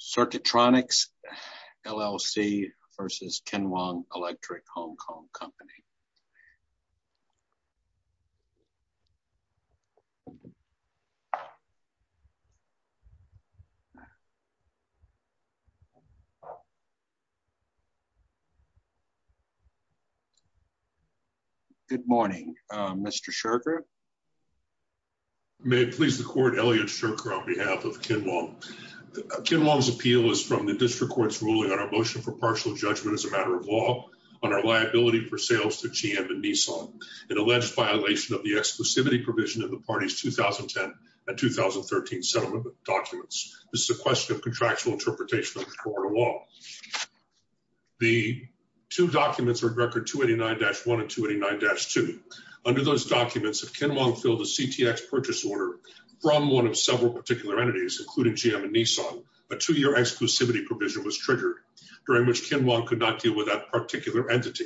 Circuitronix, LLC v. Kinwong Electric Hong Kong Company. Good morning, Mr. Sherker. May it please the court, Elliot Sherker on behalf of Kinwong. Kinwong's appeal is from the district court's ruling on our motion for partial judgment as a matter of law on our liability for sales to GM and Nissan, an alleged violation of the exclusivity provision of the party's 2010 and 2013 settlement documents. This is a question of contractual interpretation of the court of law. The two documents are in record 289-1 and 289-2. Under those documents, if Kinwong filled a CTX purchase order from one of several particular entities, including GM and Nissan, a two-year exclusivity provision was triggered during which Kinwong could not deal with that particular entity.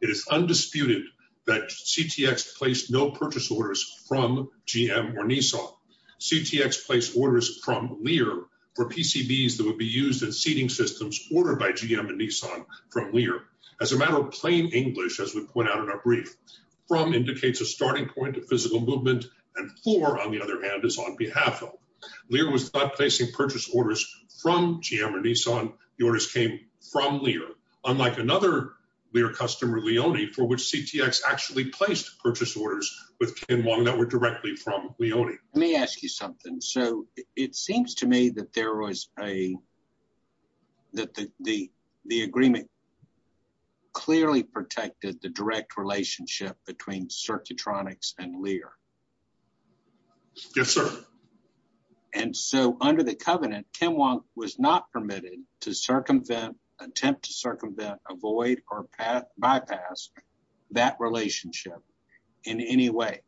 It is undisputed that CTX placed no purchase orders from GM or Nissan. CTX placed orders from Lear for PCBs that would be used in seating systems ordered by GM and Nissan from Lear. As a matter of plain English, as we point out in our brief, from indicates a starting point of physical movement and for, on the other hand, is on behalf of. Lear was not placing purchase orders from GM or Nissan. The orders came from Lear, unlike another Lear customer, Leone, for which CTX actually placed purchase orders with Kinwong that were directly from Leone. Let me ask you something. So it seems to me that there was a, that the, the, the agreement clearly protected the direct relationship between Circuitronics and Lear. Yes, sir. And so under the covenant, Kinwong was not permitted to circumvent, attempt to circumvent, avoid, or bypass that relationship in any way.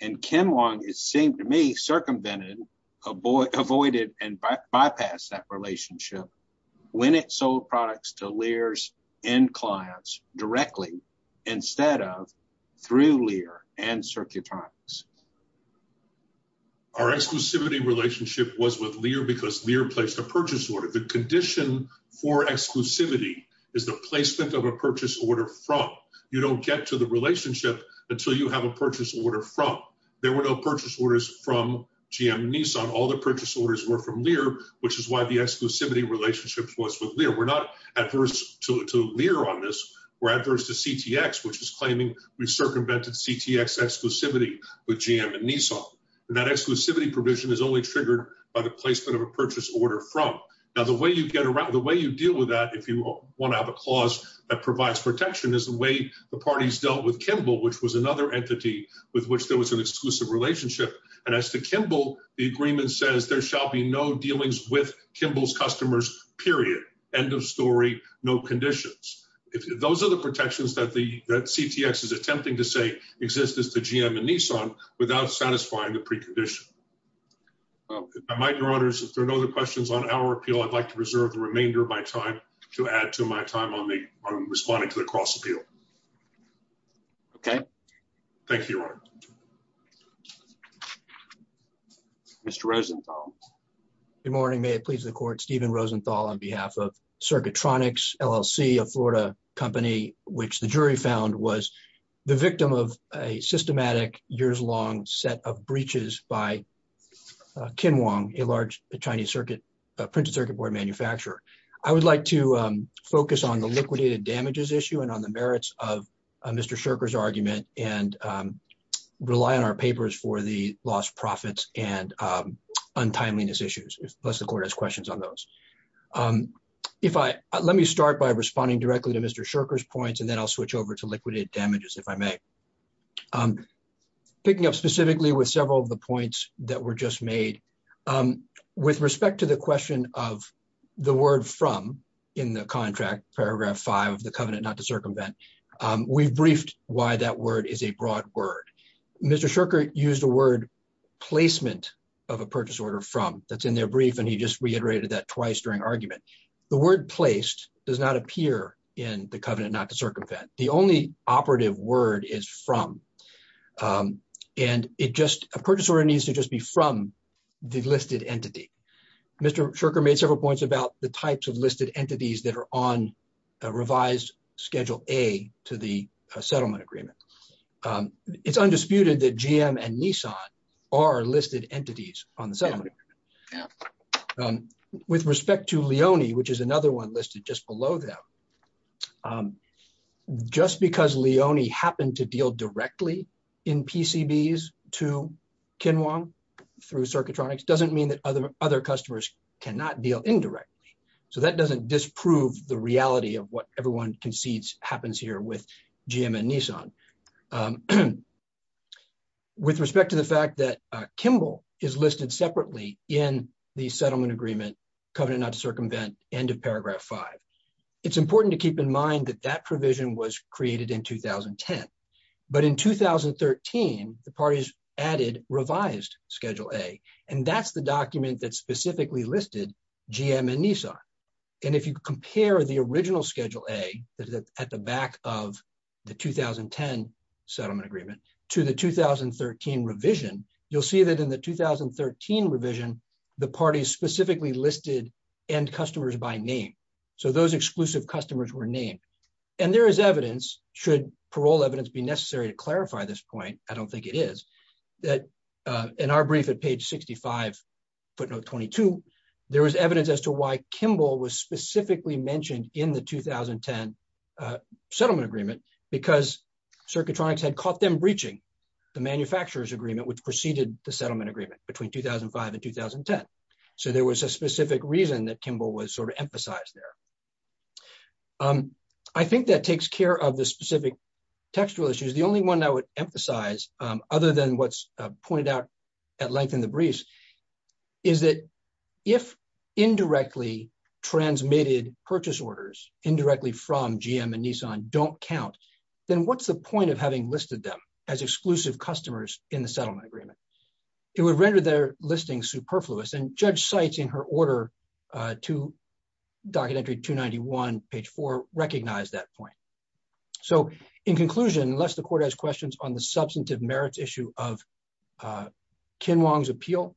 And Kinwong, it seemed to me, circumvented, avoided, and bypassed that relationship when it sold products to Lear's end clients directly instead of through Lear and Circuitronics. Our exclusivity relationship was with Lear because Lear placed a purchase order, the condition for exclusivity is the placement of a purchase order from. You don't get to the relationship until you have a purchase order from, there were no purchase orders from GM and Nissan. All the purchase orders were from Lear, which is why the exclusivity relationship was with Lear. We're not adverse to, to Lear on this, we're adverse to CTX, which is with GM and Nissan, and that exclusivity provision is only triggered by the placement of a purchase order from. Now, the way you get around, the way you deal with that, if you want to have a clause that provides protection is the way the parties dealt with Kimball, which was another entity with which there was an exclusive relationship. And as to Kimball, the agreement says there shall be no dealings with Kimball's customers, period. End of story, no conditions. If those are the protections that the, that CTX is attempting to say exist as the GM and Nissan without satisfying the precondition, I might, your honors, if there are no other questions on our appeal, I'd like to reserve the remainder of my time to add to my time on the, on responding to the cross appeal. Okay. Thank you, your honor. Mr. Rosenthal. Good morning. May it please the court. Steven Rosenthal on behalf of Circuitronics LLC, a Florida company, which the jury found was the victim of a systematic years long set of breaches by Ken Wong, a large Chinese circuit printed circuit board manufacturer. I would like to focus on the liquidated damages issue and on the merits of Mr. Shirker's argument and rely on our papers for the lost profits and untimeliness issues, unless the court has questions on those if I, let me start by responding directly to Mr. Shirker's points, and then I'll switch over to liquidated damages. If I may. I'm picking up specifically with several of the points that were just made. Um, with respect to the question of the word from in the contract, paragraph five of the covenant, not to circumvent. Um, we've briefed why that word is a broad word. Mr. Shirker used a word placement of a purchase order from that's in their brief, and he just reiterated that twice during argument, the word placed does not appear in the covenant, not to circumvent the only operative word is from, um, and it just a purchase order needs to just be from the listed entity. Mr. Shirker made several points about the types of listed entities that are on a revised schedule a to the settlement agreement. Um, it's undisputed that GM and Nissan are listed entities on the settlement. Yeah. Um, with respect to Leone, which is another one listed just below them. Um, just because Leone happened to deal directly in PCBs to Ken Wong through circuitronics doesn't mean that other, other customers cannot deal indirectly. So that doesn't disprove the reality of what everyone concedes happens here with GM and Nissan. Um, with respect to the fact that, uh, Kimball is listed separately in the settlement agreement covenant, not to circumvent end of paragraph five. It's important to keep in mind that that provision was created in 2010, but in 2013, the parties added revised schedule a, and that's the document that specifically listed GM and Nissan. And if you compare the original schedule a that at the back of the 2010 settlement agreement to the 2013 revision, you'll see that in the 2013 revision, the parties specifically listed and customers by name. So those exclusive customers were named and there is evidence. Should parole evidence be necessary to clarify this point? I don't think it is that, uh, in our brief at page 65 footnote 22, there is evidence as to why Kimball was specifically mentioned in the 2010. Uh, settlement agreement because circuitronics had caught them breaching the manufacturer's agreement, which proceeded the settlement agreement between 2005 and 2010. So there was a specific reason that Kimball was sort of emphasized there. Um, I think that takes care of the specific textual issues. The only one I would emphasize, um, other than what's pointed out at length in the breeze is that if indirectly transmitted purchase orders indirectly from GM and Nissan don't count, then what's the point of having listed them as exclusive customers in the settlement agreement, it would render their listing superfluous and judge sites in her order, uh, to documentary two 91 page four, recognize that point. So in conclusion, unless the court has questions on the substantive merits issue of, uh, Ken Wong's appeal,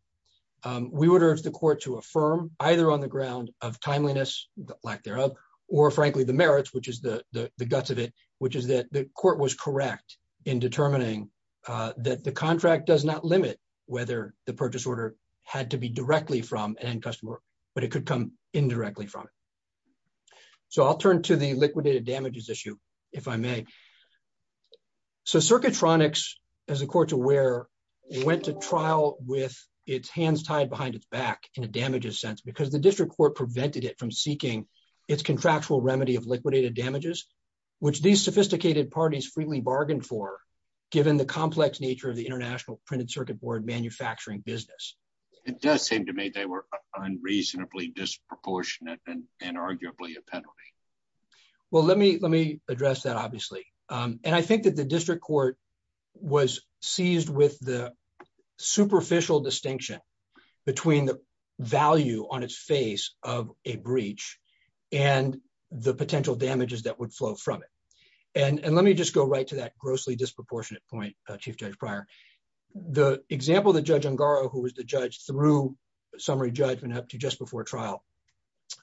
um, we would urge the court to affirm either on the ground of timeliness lack thereof, or frankly, the merits, which is the guts of it, which is that the court was correct in determining. Uh, that the contract does not limit whether the purchase order had to be directly from an end customer, but it could come indirectly from it. So I'll turn to the liquidated damages issue if I may. So circuitronics as a court to where we went to trial with its hands tied behind its back in a damages sense, because the district court prevented it from seeking its contractual remedy of liquidated damages, which these sophisticated parties freely bargained for. Given the complex nature of the international printed circuit board manufacturing business. It does seem to me they were unreasonably disproportionate and arguably a penalty. Well, let me, let me address that. Um, and I think that the district court was seized with the superficial distinction between the value on its face of a breach and the potential damages that would flow from it. And, and let me just go right to that grossly disproportionate point, uh, chief judge prior. The example of the judge on Garo, who was the judge through summary judgment up to just before trial,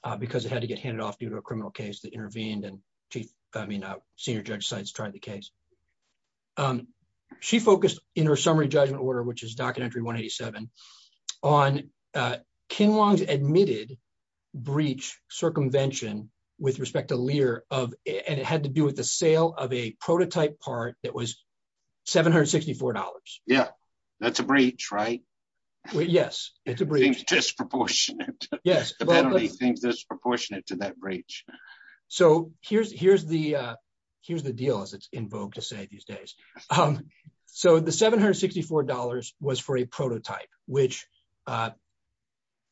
uh, because it had to get handed off due to a criminal case that intervened and chief, I mean, uh, senior judge sites tried the case. Um, she focused in her summary judgment order, which is documentary one 87 on, uh, Kinwong's admitted. Breach circumvention with respect to Lear of, and it had to do with the sale of a prototype part that was $764. Yeah, that's a breach, right? Yes. It's a disproportionate, disproportionate to that breach. So here's, here's the, uh, here's the deal as it's invoked to say these days. Um, so the $764 was for a prototype, which, uh,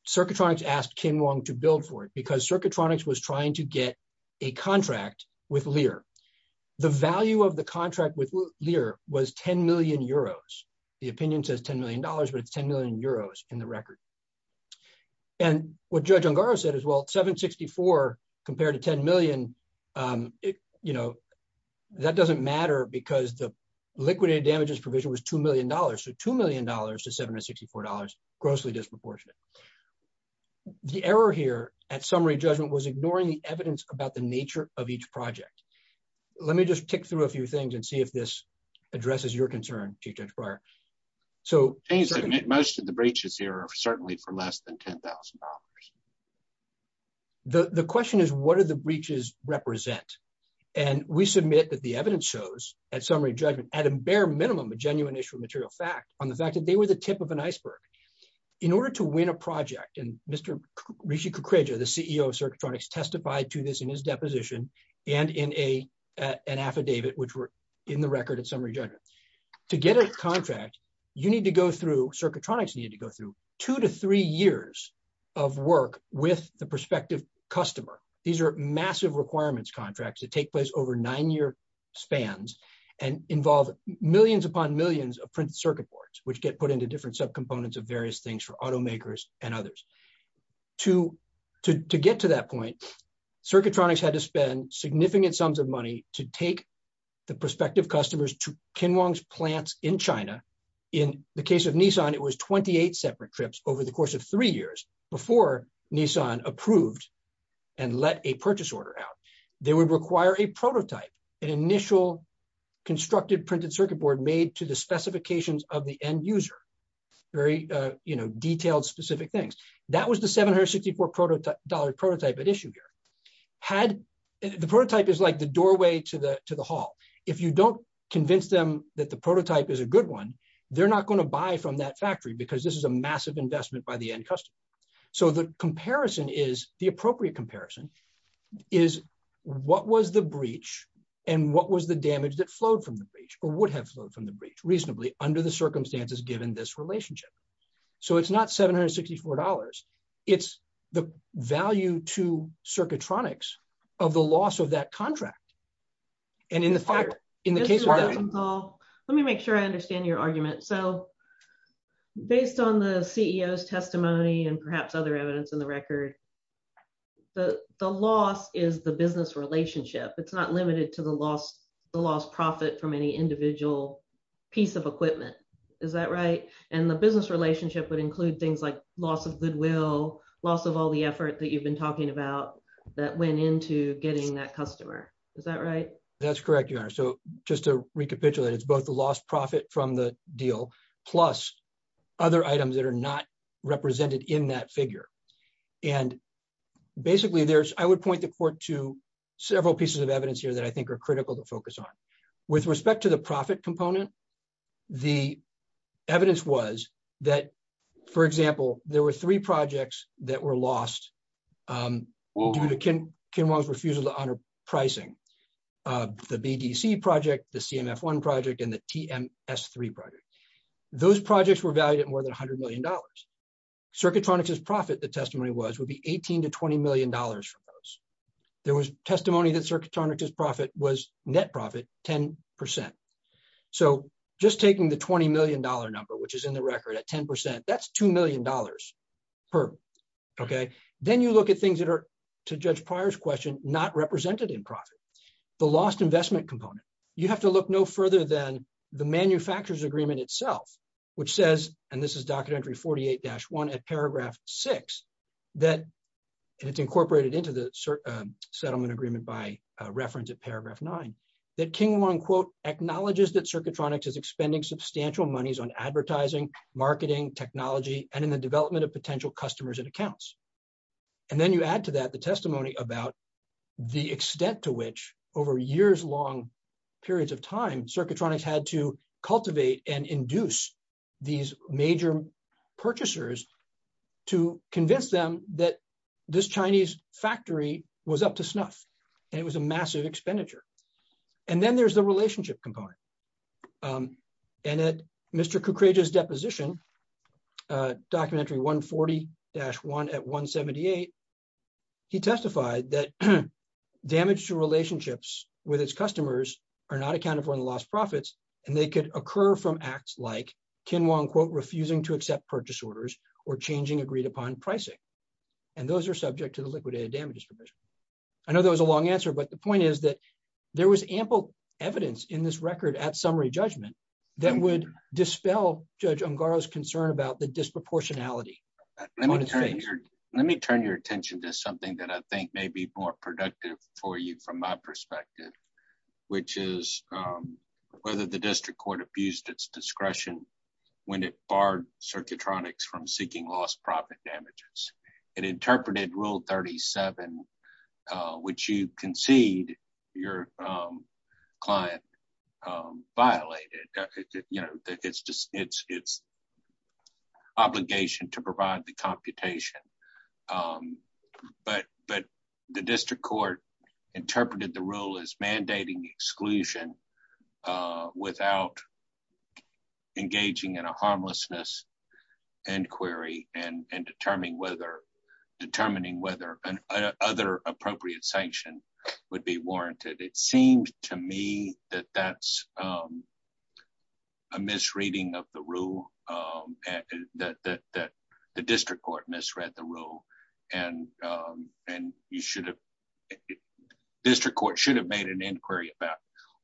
circuitronics asked Kinwong to build for it because circuitronics was trying to get a contract with Lear. The value of the contract with Lear was 10 million euros. The opinion says $10 million, but it's 10 million euros in the record. And what judge Ongaro said as well, 764 compared to 10 million. Um, you know, that doesn't matter because the liquidated damages provision was $2 million. So $2 million to $764, grossly disproportionate. The error here at summary judgment was ignoring the evidence about the nature of each project. Let me just tick through a few things and see if this addresses your concern to judge prior. So most of the breaches here are certainly for less than $10,000. The question is what are the breaches represent? And we submit that the evidence shows at summary judgment at a bare minimum, a genuine issue of material fact on the fact that they were the tip of an iceberg. In order to win a project. And Mr. Rishi Kukreja, the CEO of circuitronics testified to this in his deposition and in a, uh, an affidavit, which were in the record at summary to get a contract, you need to go through circuitronics needed to go through two to three years of work with the prospective customer. These are massive requirements contracts that take place over nine year spans and involve millions upon millions of print circuit boards, which get put into different subcomponents of various things for automakers and others. To, to, to get to that point, circuitronics had to spend significant sums of money to take the prospective customers to Kinwong's plants in China. In the case of Nissan, it was 28 separate trips over the course of three years before Nissan approved. And let a purchase order out. They would require a prototype, an initial constructed printed circuit board made to the specifications of the end user, very, uh, you know, detailed specific things. That was the $764 prototype at issue here. Had the prototype is like the doorway to the, to the hall. If you don't convince them that the prototype is a good one, they're not going to buy from that factory because this is a massive investment by the end. So the comparison is the appropriate comparison is what was the breach and what was the damage that flowed from the breach or would have flowed from the breach reasonably under the circumstances given this relationship. So it's not $764. It's the value to circuitronics of the loss of that contract. And in the fire, in the case, let me make sure I understand your argument. So based on the CEO's testimony and perhaps other evidence in the record, the loss is the business relationship. It's not limited to the loss, the loss profit from any individual piece of equipment. Is that right? And the business relationship would include things like loss of goodwill, loss of all the effort that you've been talking about that went into getting that customer. Is that right? That's correct. Your honor. So just to recapitulate, it's both the lost profit from the deal, plus other items that are not represented in that figure and basically there's, I would point the court to several pieces of evidence here that I think are critical to focus on with respect to the profit component, the evidence was that, for example, there were three projects that were lost due to Ken Ken Wong's refusal to honor pricing, the BDC project, the CMF one project, and the TMS three project, those projects were valued at more than a hundred million dollars. Circuitronics is profit. The testimony was would be 18 to $20 million from those. There was testimony that circuit on or just profit was net profit, 10%. So just taking the $20 million number, which is in the record at 10%, that's $2 million per. Okay. Then you look at things that are to judge Pryor's question, not represented in profit, the lost investment component. You have to look no further than the manufacturer's agreement itself, which says, and this is docket entry 48 dash one at paragraph six, that it's incorporated into the settlement agreement by a reference at paragraph nine, that King one quote acknowledges that circuitronics is expending substantial monies on advertising, marketing technology, and in the development of potential customers and accounts. And then you add to that the testimony about the extent to which over years long periods of time, circuitronics had to cultivate and induce these major purchasers to convince them that this Chinese factory was up to snuff and it was a massive expenditure. And then there's the relationship component. Um, and that Mr. Kukrija's deposition, uh, documentary one 40 dash one at one 78. He testified that damage to relationships with his customers are not accounted for in the last profits. And they could occur from acts like Ken Wong quote, refusing to accept purchase orders or changing agreed upon pricing, and those are subject to the liquidated damages provision. I know that was a long answer, but the point is that there was ample evidence in this record at summary judgment that would dispel judge Ungaro's concern about the disproportionality. Let me turn your attention to something that I think may be more relevant, which is that the district court abused its discretion when it barred circuitronics from seeking lost profit damages and interpreted rule 37, uh, which you concede your, um, client, um, violated, you know, it's just, it's, it's obligation to provide the computation. Um, but, but the district court interpreted the rule as mandating exclusion, uh, without engaging in a harmlessness inquiry and, and determining whether determining whether an other appropriate sanction would be warranted. It seems to me that that's, um, a misreading of the rule. Um, that, that, that the district court misread the rule and, um, and you should have made an inquiry about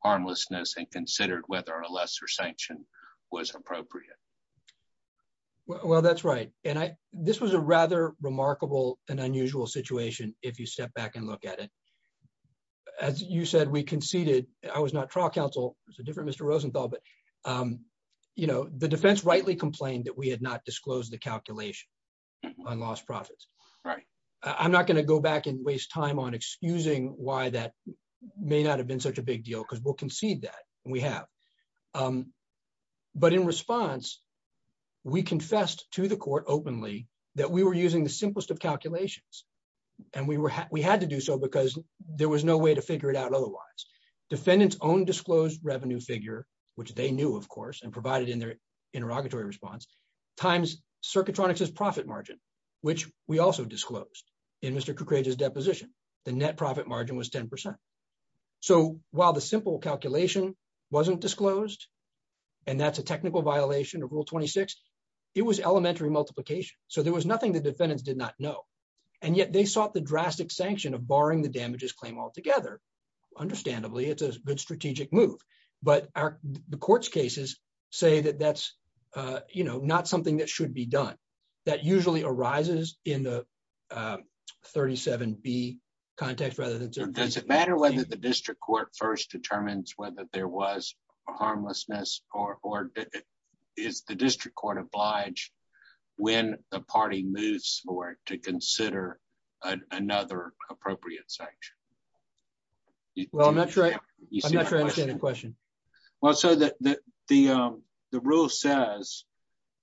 harmlessness and considered whether a lesser sanction was appropriate. Well, that's right. And I, this was a rather remarkable and unusual situation. If you step back and look at it, as you said, we conceded, I was not trial counsel, it was a different Mr. Rosenthal, but, um, you know, the defense rightly complained that we had not disclosed the calculation on lost profits. I'm not going to go back and waste time on excusing why that may not have been such a big deal because we'll concede that we have, um, but in response, we confessed to the court openly that we were using the simplest of calculations. And we were, we had to do so because there was no way to figure it out. Otherwise defendants own disclosed revenue figure, which they knew of course, and provided in their interrogatory response times circuit electronics as profit margin, which we also disclosed in Mr. Kukraja's deposition, the net profit margin was 10%. So while the simple calculation wasn't disclosed, and that's a technical violation of rule 26, it was elementary multiplication. So there was nothing that defendants did not know. And yet they sought the drastic sanction of barring the damages claim altogether. Understandably, it's a good strategic move, but our courts cases say that that's, uh, you know, not something that should be done. That usually arises in the, uh, 37 B context, rather than does it matter whether the district court first determines whether there was a harmlessness or, or is the district court obliged when the party moves forward to consider another appropriate section? Well, I'm not sure I understand the question. Well, so the, the, um, the rule says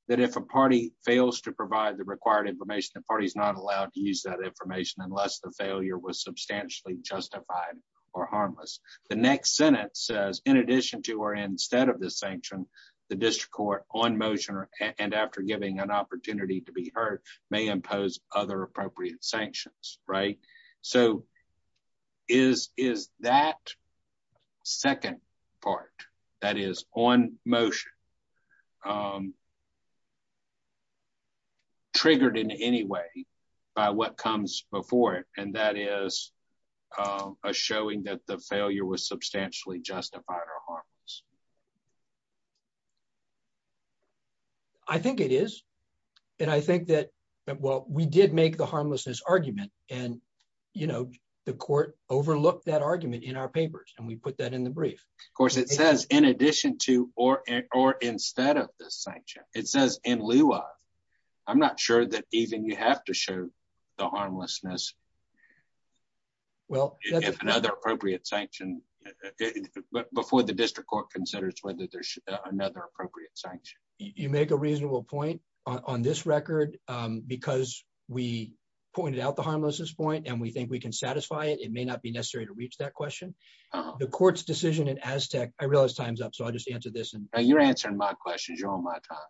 that if a party fails to provide the required information, the party is not allowed to use that information unless the failure was substantially justified or harmless, the next sentence says, in addition to, or instead of the sanction, the district court on motion and after giving an opportunity to be heard may impose other appropriate sanctions, right? So is, is that second part that is on motion, um, Triggered in any way by what comes before it, and that is, uh, a showing that the failure was substantially justified or harmless. I think it is. And I think that, well, we did make the harmlessness argument and, you know, the court overlooked that argument in our papers. And we put that in the brief. Of course it says in addition to, or, or instead of the sanction, it says in lieu of, I'm not sure that even you have to show the harmlessness, well, if another appropriate sanction before the district court considers whether there's another appropriate sanction, you make a reasonable point on this record, um, because we pointed out the harmlessness point and we think we can satisfy it. It may not be necessary to reach that question. The court's decision in Aztec. I realize time's up. So I'll just answer this and you're answering my questions. You're on my time.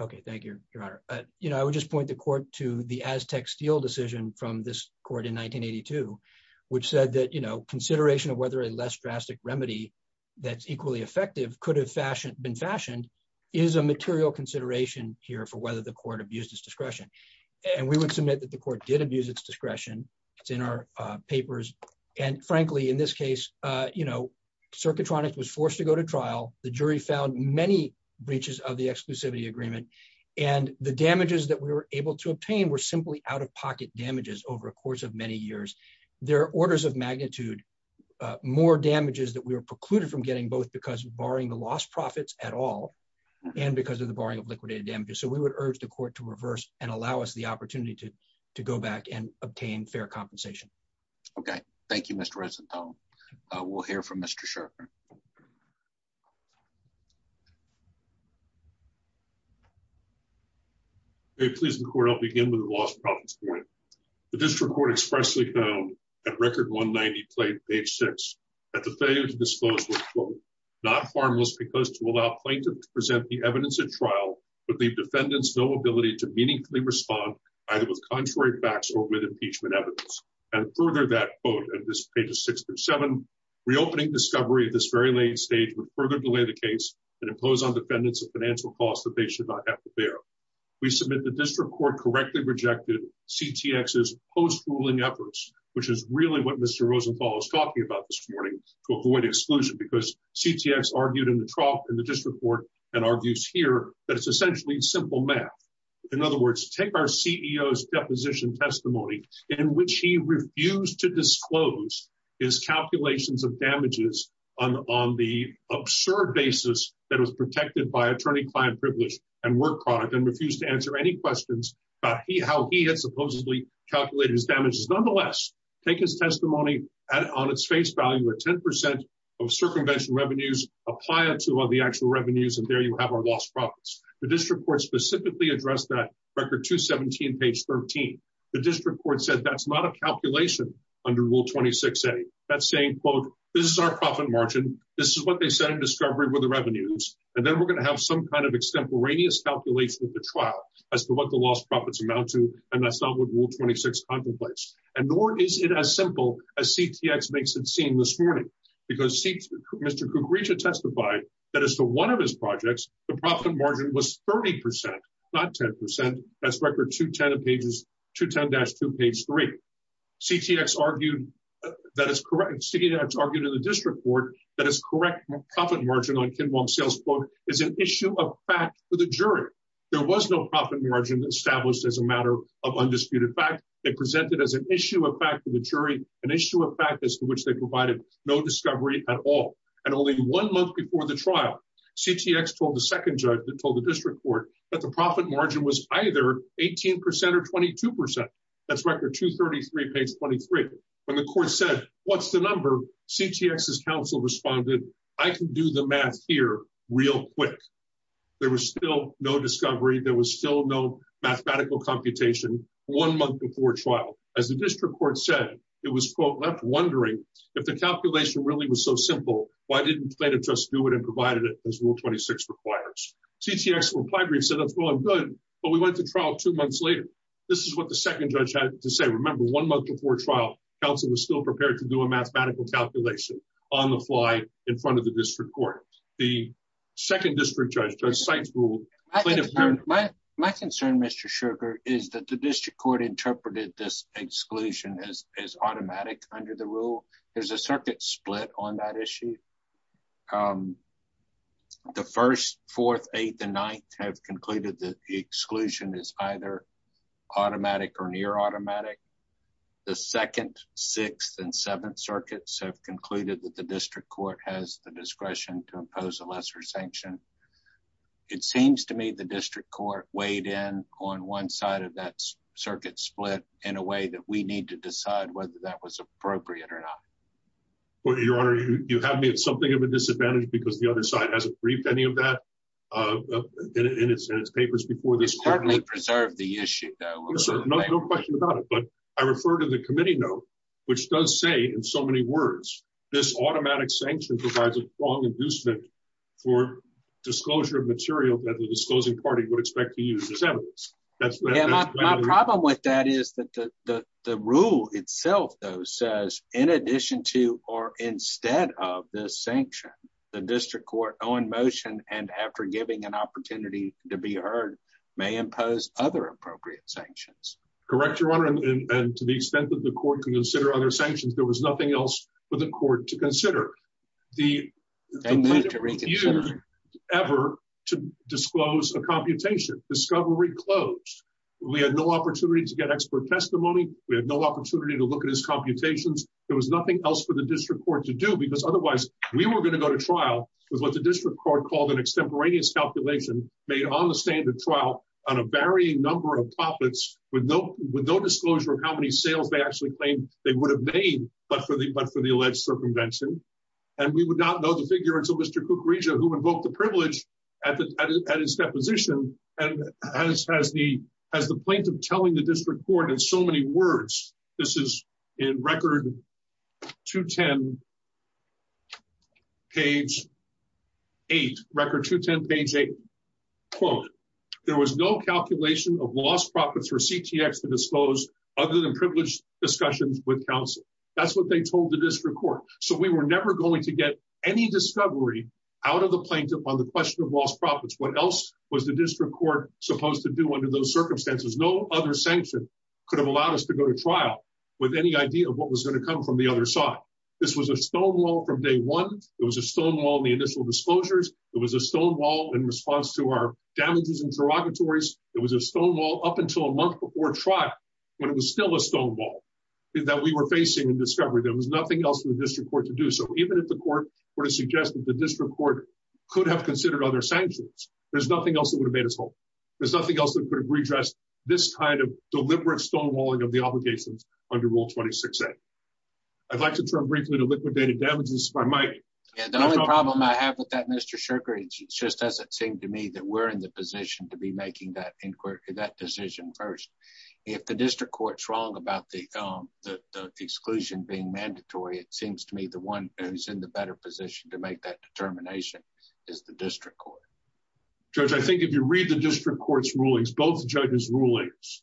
Okay. Thank you, your honor. You know, I would just point the court to the Aztec steel decision from this court in 1982, which said that, you know, consideration of whether a less drastic remedy that's equally effective could have fashioned been fashioned is a material consideration here for whether the court abused his discretion. And we would submit that the court did abuse its discretion. It's in our papers. And frankly, in this case, uh, you know, circuitronic was forced to go to trial. The jury found many breaches of the exclusivity agreement and the damages that we were able to obtain were simply out of pocket damages over a course of many years. There are orders of magnitude, uh, more damages that we were excluded from getting both because barring the lost profits at all. And because of the barring of liquidated damages. So we would urge the court to reverse and allow us the opportunity to, to go back and obtain fair compensation. Okay. Thank you, Mr. Ressenthal. Uh, we'll hear from Mr. Sharper. Hey, please record. I'll begin with the lost profits point. The district court expressly found at record one 90 plate page six at the disposal, not harmless because to allow plaintiff to present the evidence at trial, but the defendants, no ability to meaningfully respond either with contrary facts or with impeachment evidence and further that boat at this page of six through seven reopening discovery at this very late stage would further delay the case and impose on defendants of financial costs that they should not have to bear. We submit the district court correctly rejected CTX's post ruling efforts, which is really what Mr. Rosenthal is talking about this morning to avoid exclusion because CTX argued in the trough and the district court and argues here that it's essentially simple math. In other words, take our CEO's deposition testimony in which he refused to disclose his calculations of damages on, on the absurd basis that was protected by attorney client privilege and work product and refused to answer any Nonetheless, take his testimony on its face value at 10% of circumvention revenues, apply it to all the actual revenues. And there you have our lost profits. The district court specifically addressed that record to 17 page 13. The district court said that's not a calculation under rule 26, any that's saying, quote, this is our profit margin. This is what they said in discovery with the revenues. And then we're going to have some kind of extemporaneous calculation with the trial as to what the lost profits amount to. And that's not what rule 26 contemplates. And nor is it as simple as CTX makes it seem this morning, because seats, Mr. Kukrija testified that as to one of his projects, the profit margin was 30%, not 10% as record to 10 pages to 10 dash two page three CTX argued that it's correct to argue to the district court. That is correct. Profit margin on Kinbaum sales book is an issue of fact for the jury. There was no profit margin established as a matter of undisputed fact. They presented as an issue of fact to the jury, an issue of practice in which they provided no discovery at all. And only one month before the trial, CTX told the second judge that told the district court that the profit margin was either 18% or 22%. That's record two 33 page 23. When the court said, what's the number CTX as counsel responded, I can do the math here real quick. There was still no discovery. There was still no mathematical computation one month before trial. As the district court said, it was quote left wondering if the calculation really was so simple. Why didn't plaintiff just do it and provided it as rule 26 requires. CTX reply brief said that's going good, but we went to trial two months later. This is what the second judge had to say. Remember one month before trial, counsel was still prepared to do a mathematical calculation on the fly in front of the district court. The second district judge does sites rule. My concern, Mr. Sugar is that the district court interpreted this exclusion as, as automatic under the rule. There's a circuit split on that issue. Um, the first, fourth, eighth and ninth have concluded that the exclusion is either automatic or near automatic. The second, sixth and seventh circuits have concluded that the district court has the discretion to impose a lesser sanction. It seems to me the district court weighed in on one side of that circuit split in a way that we need to decide whether that was appropriate or not. Well, your honor, you have me at something of a disadvantage because the other side hasn't briefed any of that, uh, in its, in its papers. Before this currently preserve the issue, no question about it, but I refer to the committee note, which does say in so many words, this provides a long inducement for disclosure of material that the disclosing party would expect to use as evidence. That's my problem with that is that the, the, the rule itself though, says in addition to, or instead of this sanction, the district court on motion. And after giving an opportunity to be heard may impose other appropriate sanctions, correct your honor. And to the extent that the court can consider other sanctions, there was the ever to disclose a computation discovery closed. We had no opportunity to get expert testimony. We had no opportunity to look at his computations. There was nothing else for the district court to do because otherwise we were going to go to trial with what the district court called an extemporaneous calculation made on the standard trial on a varying number of topics with no, with no disclosure of how many sales they actually claimed they would have made. But for the, but for the alleged circumvention, and we would not know the figure until Mr. Kukrija who invoked the privilege at the, at his deposition and as, as the, as the plaintiff telling the district court in so many words, this is in record two, 10. Page eight record two, 10 page eight quote, there was no calculation of lost profits for CTX to disclose other than privileged discussions with counsel. That's what they told the district court. So we were never going to get any discovery out of the plaintiff on the question of lost profits. What else was the district court supposed to do under those circumstances? No other sanction could have allowed us to go to trial with any idea of what was going to come from the other side. This was a stonewall from day one. It was a stonewall in the initial disclosures. It was a stonewall in response to our damages interrogatories. It was a stonewall up until a month before trial, when it was still a discovery, there was nothing else for the district court to do. So even if the court were to suggest that the district court could have considered other sanctions, there's nothing else that would have made us whole there's nothing else that could have redressed this kind of deliberate stonewalling of the obligations under rule 26. I'd like to turn briefly to liquidated damages by Mike. And the only problem I have with that, Mr. Sugar, it's just, as it seemed to me that we're in the position to be making that inquiry, that decision first, if the district court's wrong about the exclusion being mandatory, it seems to me the one who's in the better position to make that determination is the district court. Judge, I think if you read the district court's rulings, both judges rulings,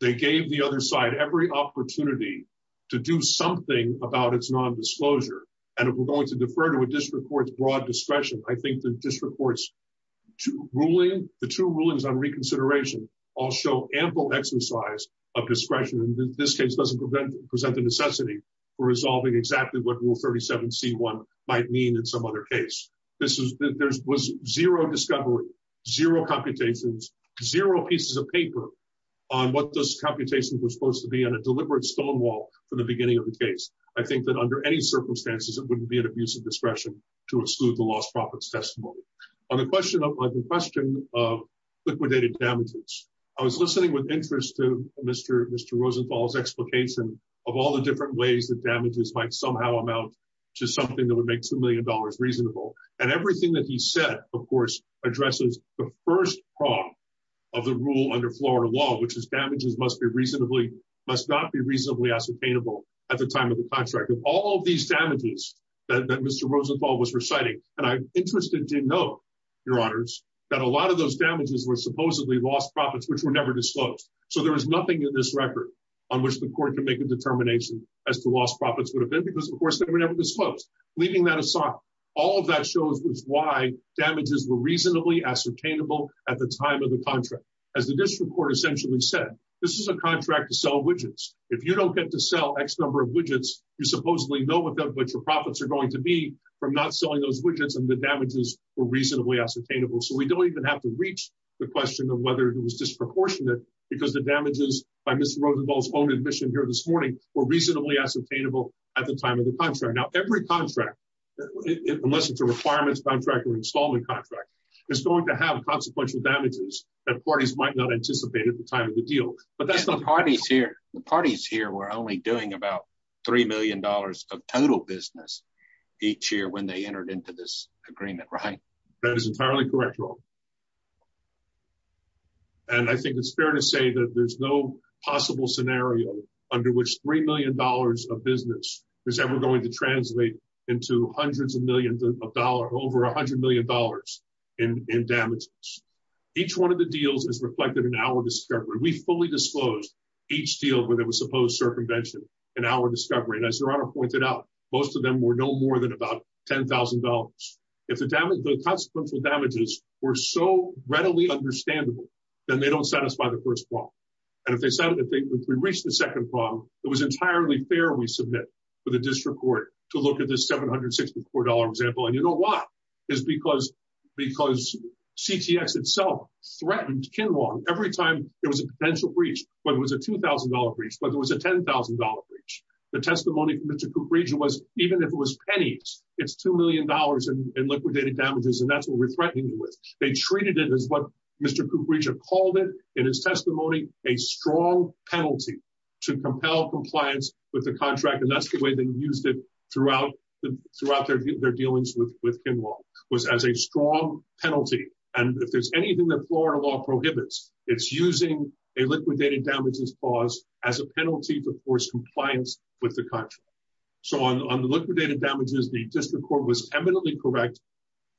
they gave the other side every opportunity to do something about its nondisclosure, and if we're going to defer to a district court's broad discretion, I think the district court's ruling, the two rulings on discretion, this case doesn't present the necessity for resolving exactly what rule 37 C1 might mean in some other case, this was zero discovery, zero computations, zero pieces of paper on what those computations were supposed to be on a deliberate stonewall from the beginning of the case. I think that under any circumstances, it wouldn't be an abuse of discretion to exclude the lost profits testimony. On the question of liquidated damages, I was listening with interest to Mr. Rosenthal's explication of all the different ways that damages might somehow amount to something that would make $2 million reasonable, and everything that he said, of course, addresses the first prong of the rule under Florida law, which is damages must not be reasonably ascertainable at the time of the contract, of all of these damages that Mr. Rosenthal was reciting, and I'm interested to note, your honors, that a lot of those damages were supposedly lost profits, which were never disclosed. So there was nothing in this record on which the court can make a determination as to lost profits would have been because of course, they were never disclosed, leaving that aside. All of that shows why damages were reasonably ascertainable at the time of the contract. As the district court essentially said, this is a contract to sell widgets. If you don't get to sell X number of widgets, you supposedly know without what your profits are going to be from not selling those widgets and the damages were reasonably ascertainable. So we don't even have to reach the question of whether it was disproportionate because the damages by Mr. Rosenthal's own admission here this morning were reasonably ascertainable at the time of the contract. Now, every contract, unless it's a requirements contract or installment contract is going to have consequential damages that parties might not anticipate at the time of the deal, but that's the parties here. The parties here were only doing about $3 million of total business each year when they entered into this agreement, right? That is entirely correct. And I think it's fair to say that there's no possible scenario under which $3 million of business is ever going to translate into hundreds of millions of dollars, over a hundred million dollars in damages. Each one of the deals is reflected in our discovery. We fully disclosed each deal where there was supposed circumvention in our discovery, and as your honor pointed out, most of them were no more than about $10,000 if the damage, the consequential damages were not were so readily understandable, then they don't satisfy the first one. And if they said that they reached the second problem, it was entirely fair, we submit for the district court to look at this $764 example. And you know why is because, because CTS itself threatened Kinlong every time there was a potential breach, whether it was a $2,000 breach, whether it was a $10,000 breach. The testimony from Mr. Cooperage was even if it was pennies, it's $2 million in liquidated damages, and that's what we're threatening with. They treated it as what Mr. Cooperage had called it in his testimony, a strong penalty to compel compliance with the contract. And that's the way they used it throughout the, throughout their view, their dealings with, with Kinlong was as a strong penalty. And if there's anything that Florida law prohibits, it's using a liquidated damages clause as a penalty to force compliance with the contract. So on, on the liquidated damages, the district court was eminently correct,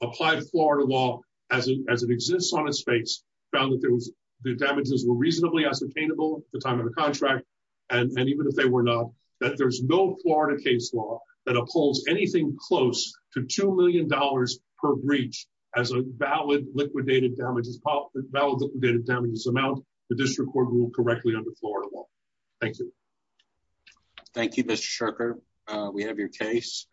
applied Florida law as it, as it exists on its face, found that there was, the damages were reasonably ascertainable at the time of the contract, and even if they were not, that there's no Florida case law that upholds anything close to $2 million per breach as a valid liquidated damages, valid liquidated damages amount, the district court ruled correctly under Florida law. Thank you. Thank you, Mr. Shurker. We have your case.